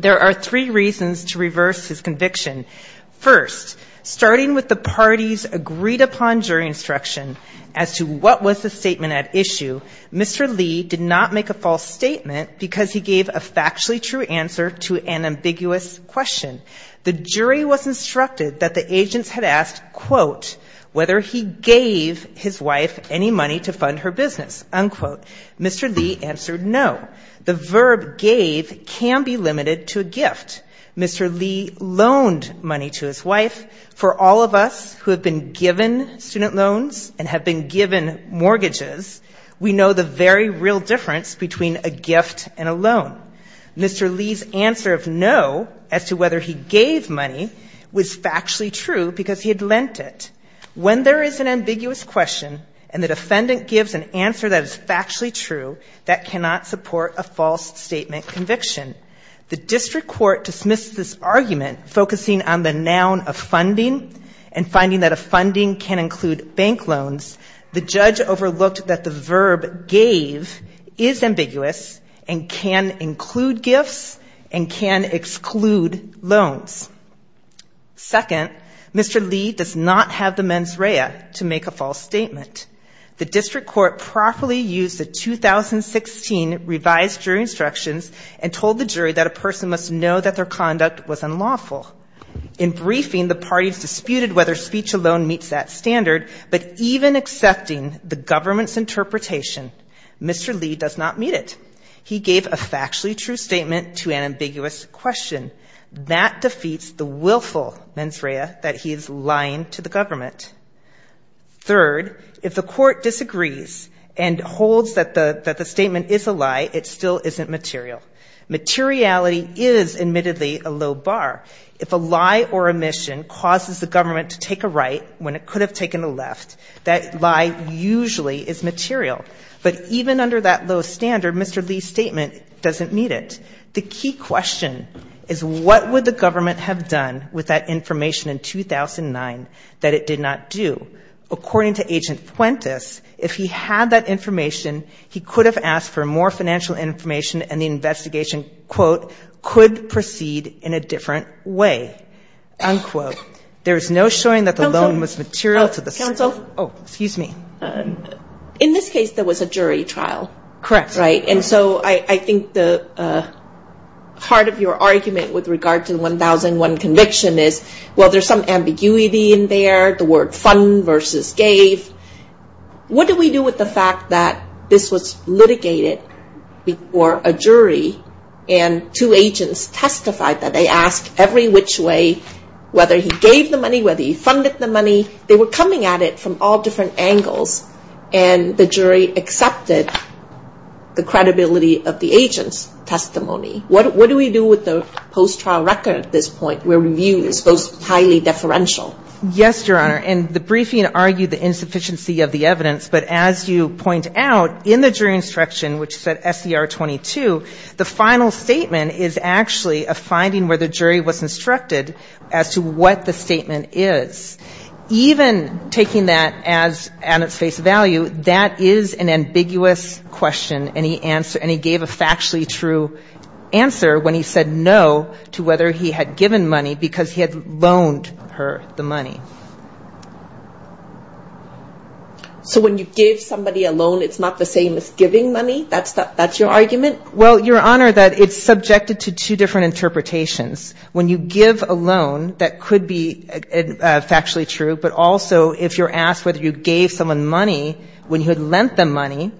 There are three reasons to reverse his conviction. First, starting with the party's agreed upon jury instruction as to what was the statement at issue, Mr. Lee did not make a false statement because he gave a factually true answer to an ambiguous question. The jury was instructed that the agents had a right to make a false statement, but they did not make a false statement because they did not have a right to make a false statement. But instead he asked quote whether he gave his wife any money to fund her business, unquote. MR. Lee answered no. The verb gave can be limited to a gift. Mr. Lee loaned money to his wife. For all of us who have been given student loans and have been given mortgages, we know the very real difference between a gift and a loan. Mr. Lee's answer of no as to whether he gave money was factually true because he had lent it. When there is an ambiguous question and the defendant gives an answer that is factually true, that cannot support a false statement conviction. The district court dismissed this argument focusing on the noun of funding and finding that a funding can include bank loans. The judge overlooked that the verb gave is ambiguous and can include gifts and can exclude loans. Second, Mr. Lee does not have the mens rea to make a false statement. The district court properly used the 2016 revised jury instructions and told the jury that a person must know that their conduct was unlawful. In briefing the parties disputed whether speech alone meets that standard, but even accepting the government's interpretation, Mr. Lee does not meet it. He gave a factually true statement to an ambiguous question. That defeats the willful mens rea that he is lying to the government. Third, if the court disagrees and holds that the statement is a lie, it still isn't material. Materiality is admittedly a low bar. If a lie or omission causes the government to take a right when it could have taken a left, that lie usually is material. But even under that low standard, Mr. Lee's statement doesn't meet it. The key question is what would the government have done with that information in 2009 that it did not do? According to Agent Puentes, if he had that information, he could have asked for more financial information and the investigation, quote, could proceed in a different way, unquote. There is no showing that the loan was material to the state. Oh, excuse me. In this case, there was a jury trial. Correct. Right. And so I think the heart of your argument with regard to the 1001 conviction is, well, there's some ambiguity in there, the word fund versus gave. What do we do with the fact that this was litigated before a jury and two agents testified that they asked every which way whether he gave the money, whether he funded the money. They were coming at it from all different angles, and the jury accepted the credibility of the agent's testimony. What do we do with the post-trial record at this point where review is highly deferential? Yes, Your Honor, and the briefing argued the insufficiency of the evidence, but as you point out, in the jury instruction, which said SCR 22, the final statement is actually a finding where the jury was instructed as to what the statement is. Even taking that at its face value, that is an ambiguous question, and he gave a factually true answer when he said no to whether he had given money because he had loaned her the money. So when you give somebody a loan, it's not the same as giving money? That's your argument? Well, Your Honor, that it's subjected to two different interpretations. When you give a loan, that could be factually true, but also if you're asked whether you gave someone money when you had lent them money,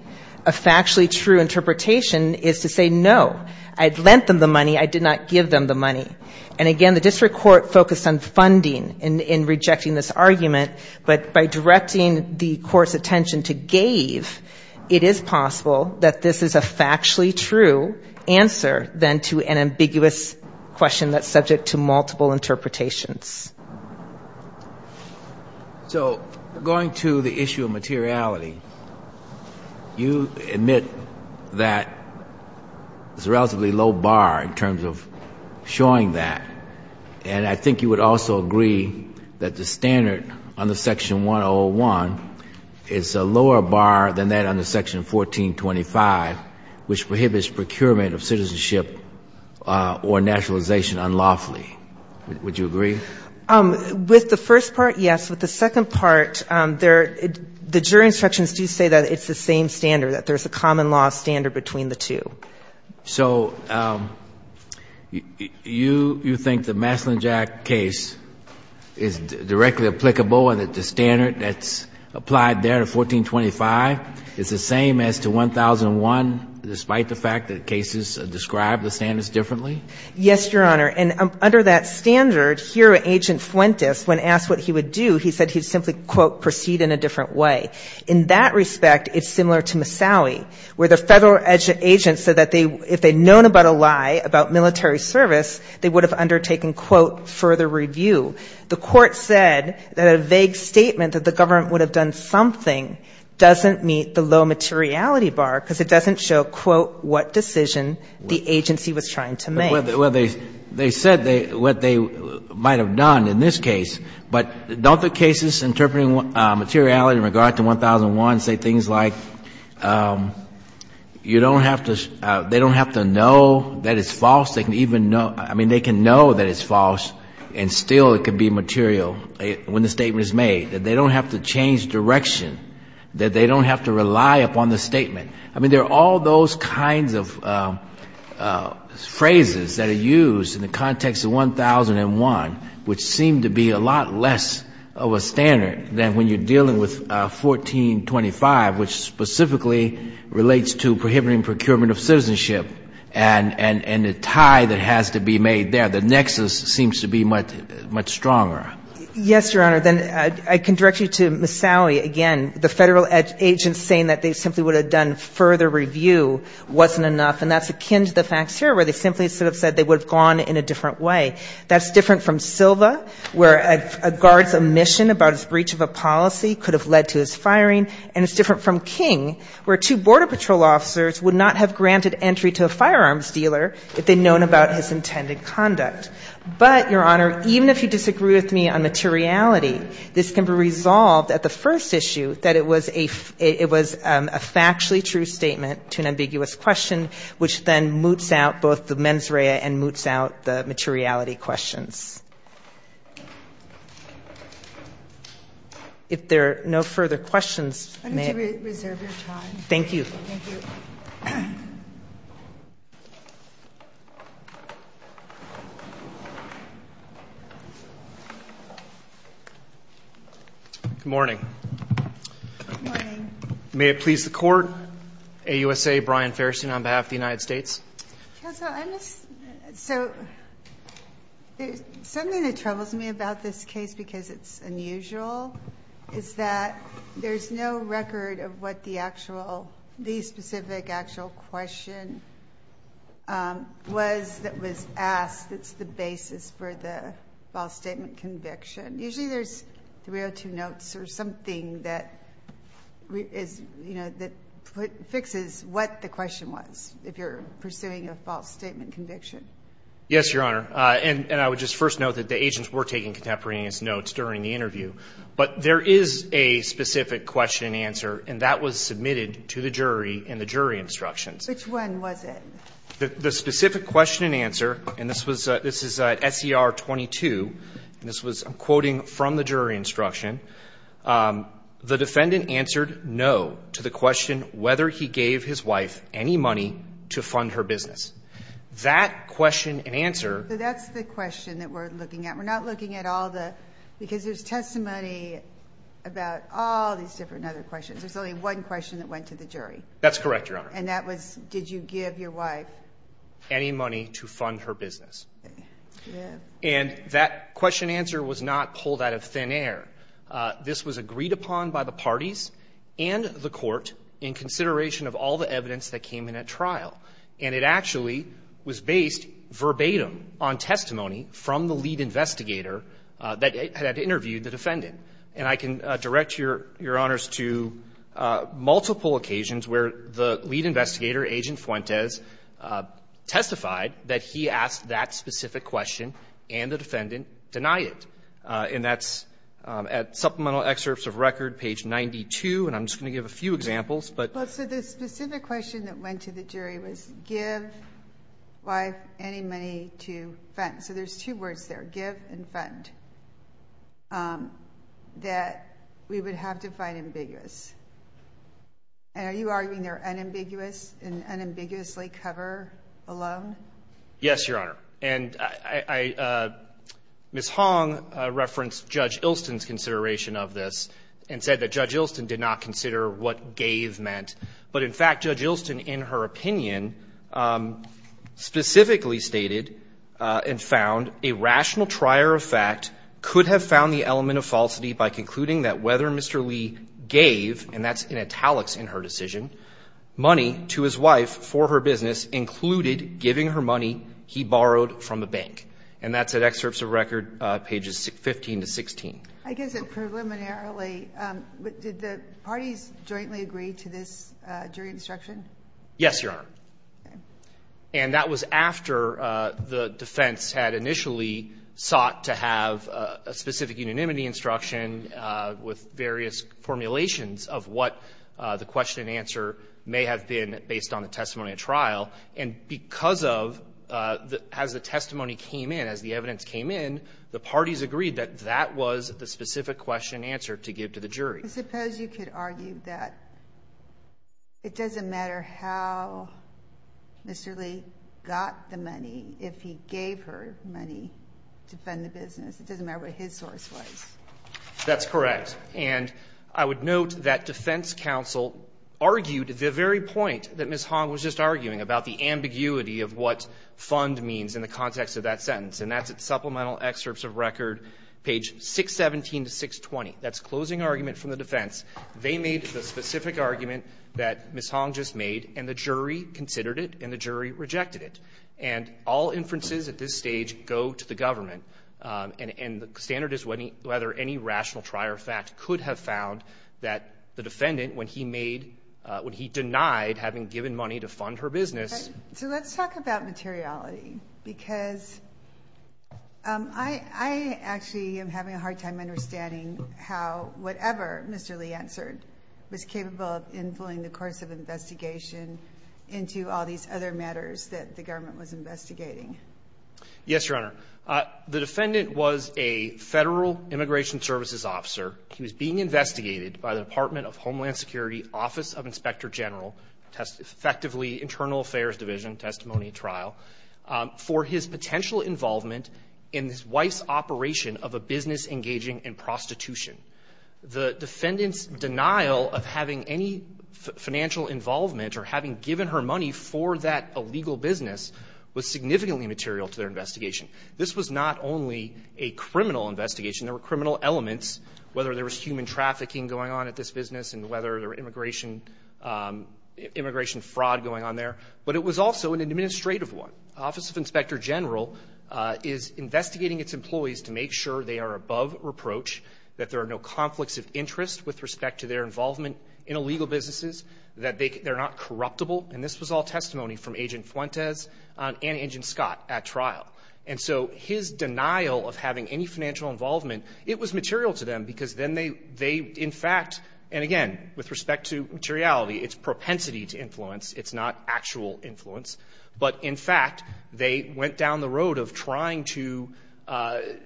a factually true interpretation is to say no, I had lent them the money, I did not give them the money. And again, the district court focused on funding in rejecting this argument, but by directing the court's attention to gave, it is possible that this is a factually true answer than to an ambiguous question that's subject to multiple interpretations. So going to the issue of materiality, you admit that there's a relatively low bar in terms of showing that, and I think you would also agree that the standard under Section 101 is a lower bar than that under Section 1425, which prohibits procurement of citizenship or nationalization unlawfully. Would you agree? With the first part, yes. With the second part, the jury instructions do say that it's the same standard, that there's a common law standard between the two. So you think the Maslin-Jack case is directly applicable and that the standard that's applied there to 1425 is the same as to 1001, despite the fact that cases describe the standards differently? Yes, Your Honor. And under that standard, here Agent Fuentes, when asked what he would do, he said he'd simply, quote, proceed in a different way. In that respect, it's similar to Massaui, where the Federal agent said that if they had known about a lie about military service, they would have undertaken, quote, further review. The Court said that a vague statement that the government would have done something doesn't meet the low materiality bar, because it doesn't show, quote, what decision the agency was trying to make. Well, they said what they might have done in this case, but don't the cases interpreting materiality and materiality in a different way? I mean, in regard to 1001, say things like, you don't have to, they don't have to know that it's false. They can even know, I mean, they can know that it's false, and still it could be material when the statement is made. That they don't have to change direction, that they don't have to rely upon the statement. I mean, there are all those kinds of phrases that are used in the context of 1001, which seem to be a lot less of a standard than when you're dealing with 1425, which specifically relates to prohibiting procurement of citizenship, and the tie that has to be made there. The nexus seems to be much stronger. Yes, Your Honor. Then I can direct you to Misali again. The Federal agent saying that they simply would have done further review wasn't enough, and that's akin to the facts here, where they simply sort of said they would have gone in a different way. That's different from Silva, where a guard's omission about his breach of a policy could have led to his firing, and it's different from King, where two border patrol officers would not have granted entry to a firearms dealer if they'd known about his intended conduct. But, Your Honor, even if you disagree with me on materiality, this can be resolved at the first issue that it was a factually true statement to an ambiguous question, which then moots out both the mens rea and moots out the materiality of the question. If there are no further questions, may I? I need to reserve your time. Thank you. Good morning. May it please the Court. AUSA, Brian Fairstein on behalf of the United States. Counsel, something that troubles me about this case, because it's unusual, is that there's no record of what the specific actual question was that was asked that's the basis for the false statement conviction. Usually there's 302 notes or something that fixes what the question was, if you're pursuing a false statement conviction. Yes, Your Honor, and I would just first note that the agents were taking contemporaneous notes during the interview, but there is a specific question and answer, and that was submitted to the jury in the jury instructions. Which one was it? The specific question and answer, and this was at SER 22, and this was, I'm quoting from the jury instruction. The defendant answered no to the question whether he gave his wife any money to fund her business. That question and answer. So that's the question that we're looking at. We're not looking at all the, because there's testimony about all these different other questions. There's only one question that went to the jury. That's correct, Your Honor. And that was, did you give your wife any money to fund her business? And that question and answer was not pulled out of thin air. This was agreed upon by the parties and the court in consideration of all the evidence that came in at trial, and it actually was based verbatim on testimony from the lead investigator that had interviewed the defendant. And I can direct Your Honors to multiple occasions where the lead investigator, Agent Fuentes, testified that he asked that specific question, and the defendant denied it. And that's at supplemental excerpts of record, page 92, and I'm just going to give a few examples. So the specific question that went to the jury was give wife any money to fund. So there's two words there, give and fund, that we would have to find ambiguous. And are you arguing they're unambiguous and unambiguously cover alone? Yes, Your Honor. And Ms. Hong referenced Judge Ilston's consideration of this and said that Judge Ilston did not consider what gave meant. But in fact, Judge Ilston, in her opinion, specifically stated, in fact, that she would have to give money to fund a rational trier of fact, could have found the element of falsity by concluding that whether Mr. Lee gave, and that's in italics in her decision, money to his wife for her business included giving her money he borrowed from a bank. And that's at excerpts of record, pages 15 to 16. I guess that preliminarily, did the parties jointly agree to this jury instruction? Yes, Your Honor. And that was after the defense had initially sought to have a specific unanimity instruction with various formulations of what the question and answer may have been based on the testimony of trial. And because of, as the testimony came in, as the evidence came in, the parties agreed that that was the specific question that Ms. Hong was asking. And I'm not sure how Mr. Lee got the money, if he gave her money to fund the business. It doesn't matter what his source was. That's correct. And I would note that defense counsel argued the very point that Ms. Hong was just arguing about the ambiguity of what fund means in the context of that sentence. And that's at supplemental excerpts of record, page 617 to 620. That's closing argument from the defense. And that's what the jury made, and the jury considered it, and the jury rejected it. And all inferences at this stage go to the government. And the standard is whether any rational trier of fact could have found that the defendant, when he denied having given money to fund her business. So let's talk about materiality. Because I actually am having a hard time understanding how whatever Mr. Lee answered was capable of influencing the course of investigation. Into all these other matters that the government was investigating. Yes, Your Honor. The defendant was a federal immigration services officer. He was being investigated by the Department of Homeland Security, Office of Inspector General, effectively Internal Affairs Division, testimony trial, for his potential involvement in his wife's operation of a business engaging in prostitution. The defendant's denial of having any financial involvement or having given her money for that illegal business was significantly material to their investigation. This was not only a criminal investigation, there were criminal elements, whether there was human trafficking going on at this business, and whether there were immigration fraud going on there, but it was also an administrative one. Office of Inspector General is investigating its employees to make sure they are above reproach, that there are no conflicts of interest with respect to their involvement in illegal businesses, that they're not corruptible, and this was all testimony from Agent Fuentes and Agent Scott at trial. And so his denial of having any financial involvement, it was material to them because then they, in fact, and again, with respect to materiality, it's propensity to influence, it's not actual influence, but in fact, they went down the road of trying to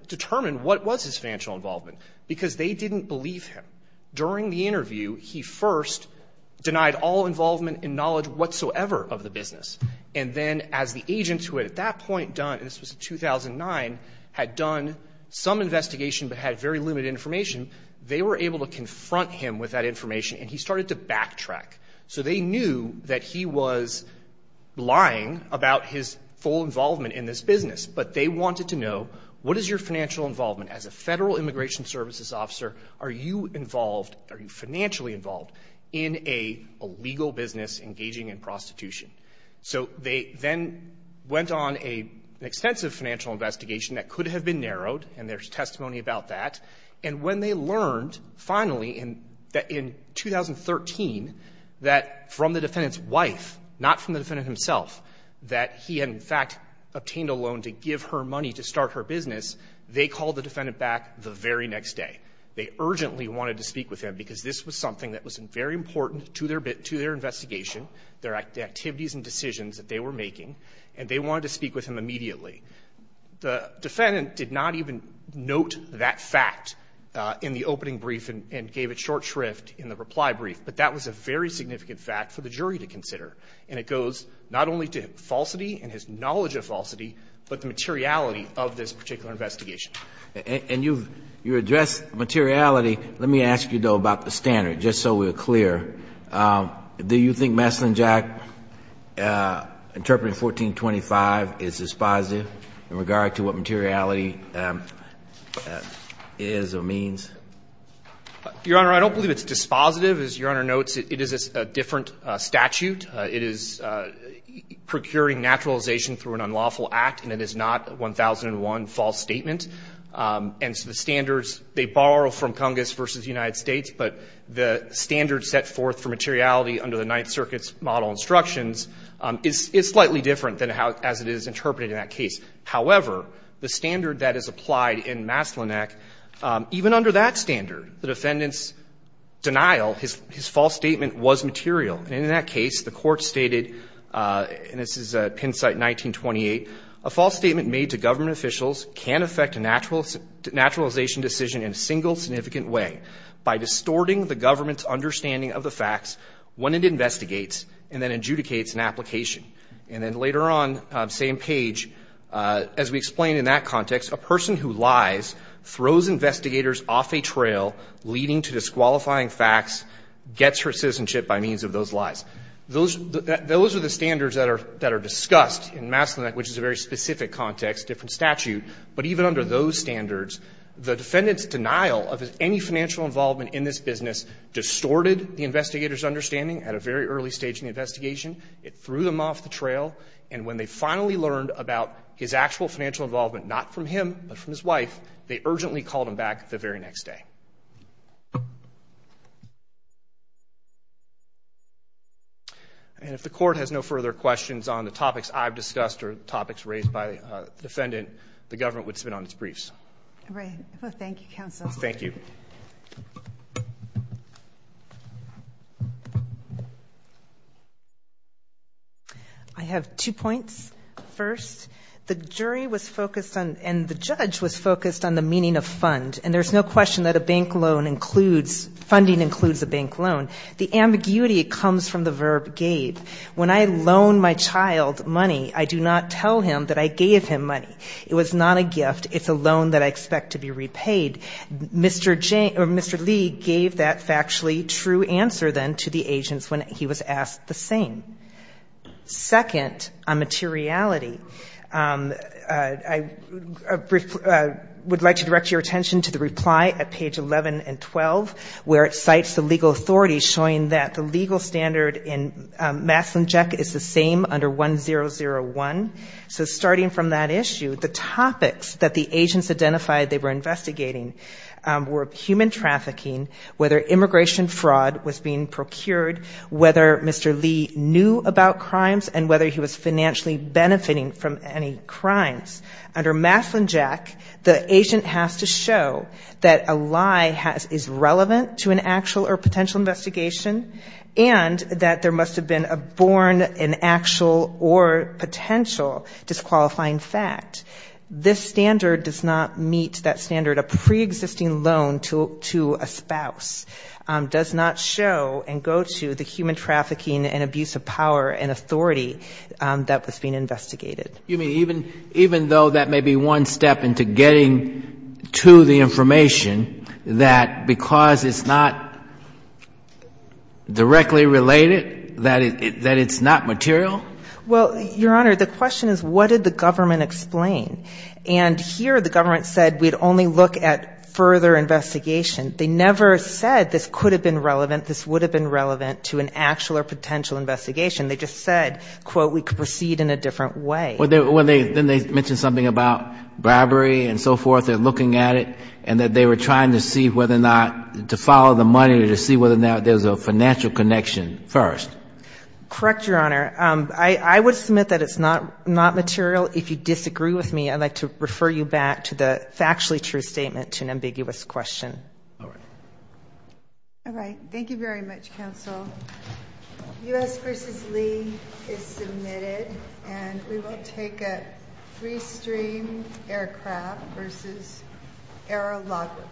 determine what was his financial involvement. Because they didn't believe him. During the interview, he first denied all involvement and knowledge whatsoever of the business, and then as the agent who at that point done, this was in 2009, had done some investigation but had very limited information, they were able to confront him with that information, and he started to backtrack. So they knew that he was lying about his full involvement in this business, and they asked the defense's officer, are you involved, are you financially involved in a legal business engaging in prostitution? So they then went on an extensive financial investigation that could have been narrowed, and there's testimony about that, and when they learned, finally, in 2013, that from the defendant's wife, not from the defendant himself, that he had, in fact, obtained a loan to give her money to start her business, they called the defendant back the very next day. They urgently wanted to speak with him, because this was something that was very important to their investigation, their activities and decisions that they were making, and they wanted to speak with him immediately. The defendant did not even note that fact in the opening brief and gave it short shrift in the reply brief, but that was a very significant fact for the jury to consider, and it goes not only to falsity and his knowledge of falsity, but the materiality of this particular investigation. And you've addressed materiality, let me ask you, though, about the standard, just so we're clear. Do you think Messlingjack interpreting 1425 is dispositive in regard to what materiality is or means? Your Honor, I don't believe it's dispositive. As Your Honor notes, it is a different statute. It is procuring naturalization through an unlawful act, and it is not 1001 false statement. And so the standards, they borrow from Congress versus the United States, but the standard set forth for materiality under the Ninth Circuit's model instructions is slightly different than how, as it is interpreted in that case. However, the standard that is applied in Messlingjack, even under that standard, the defendant's denial, his false statement was material. And in that case, the court stated, and this is at Penn Site 1928, a false statement made to government officials can affect a naturalization decision in a single significant way, by distorting the government's understanding of the facts when it investigates and then adjudicates an application. And then later on, same page, as we explained in that context, a person who lies throws investigators off a trail leading to disqualifying facts, gets hurt citizenship by means of those lies. Those are the standards that are discussed in Messlingjack, which is a very specific context, different statute. But even under those standards, the defendant's denial of any financial involvement in this business distorted the investigator's understanding at a very early stage in the investigation. It threw them off the trail, and when they finally learned about his actual financial involvement, not from him, but from his wife, they urgently called him back the very next day. And if the court has no further questions on the topics I've discussed or topics raised by the defendant, the government would spin on its briefs. Right. Well, thank you, Counsel. Thank you. I have two points. First, the jury was focused on, and the judge was focused on the meaning of fund. And there's no question that a bank loan includes, funding includes a bank loan. The ambiguity comes from the verb gave. When I loan my child money, I do not tell him that I gave him money. It was not a gift. It's a loan that I expect to be repaid. Mr. Lee gave that factually true answer then to the agents when he was asked the same. Second, on materiality, I would like to direct your attention to the reply at page 11 and 12, where it cites the legal authorities showing that the legal standard in Maslin-Jeck is the same under 1001. So starting from that issue, the topics that the agents identified they were investigating were human trafficking, whether immigration fraud was being procured, whether Mr. Lee knew about crimes, and whether he was financially benefiting from any crimes. Under Maslin-Jeck, the agent has to show that a lie is relevant to an actual or potential investigation, and that there must have been a born in actual or potential disqualifying fact. This standard does not meet that standard. A preexisting loan to a spouse does not show and go to the human trafficking and abuse of power and authority that was being investigated. You mean even though that may be one step into getting to the information that because it's not directly related, that it's not material? Well, Your Honor, the question is what did the government explain? And here the government said we'd only look at further investigation. They never said this could have been relevant, this would have been relevant to an actual or potential investigation. They just said, quote, we could proceed in a different way. Well, then they mention something about bribery and so forth, they're looking at it, and that they were trying to see whether or not to follow the money or to see whether or not there's a financial connection first. Correct, Your Honor. I would submit that it's not material. If you disagree with me, I'd like to refer you back to the factually true statement to an ambiguous question. All right. All right. Thank you very much, counsel. U.S. v. Lee is submitted, and we will take it. Free stream aircraft v. Arrow Logger.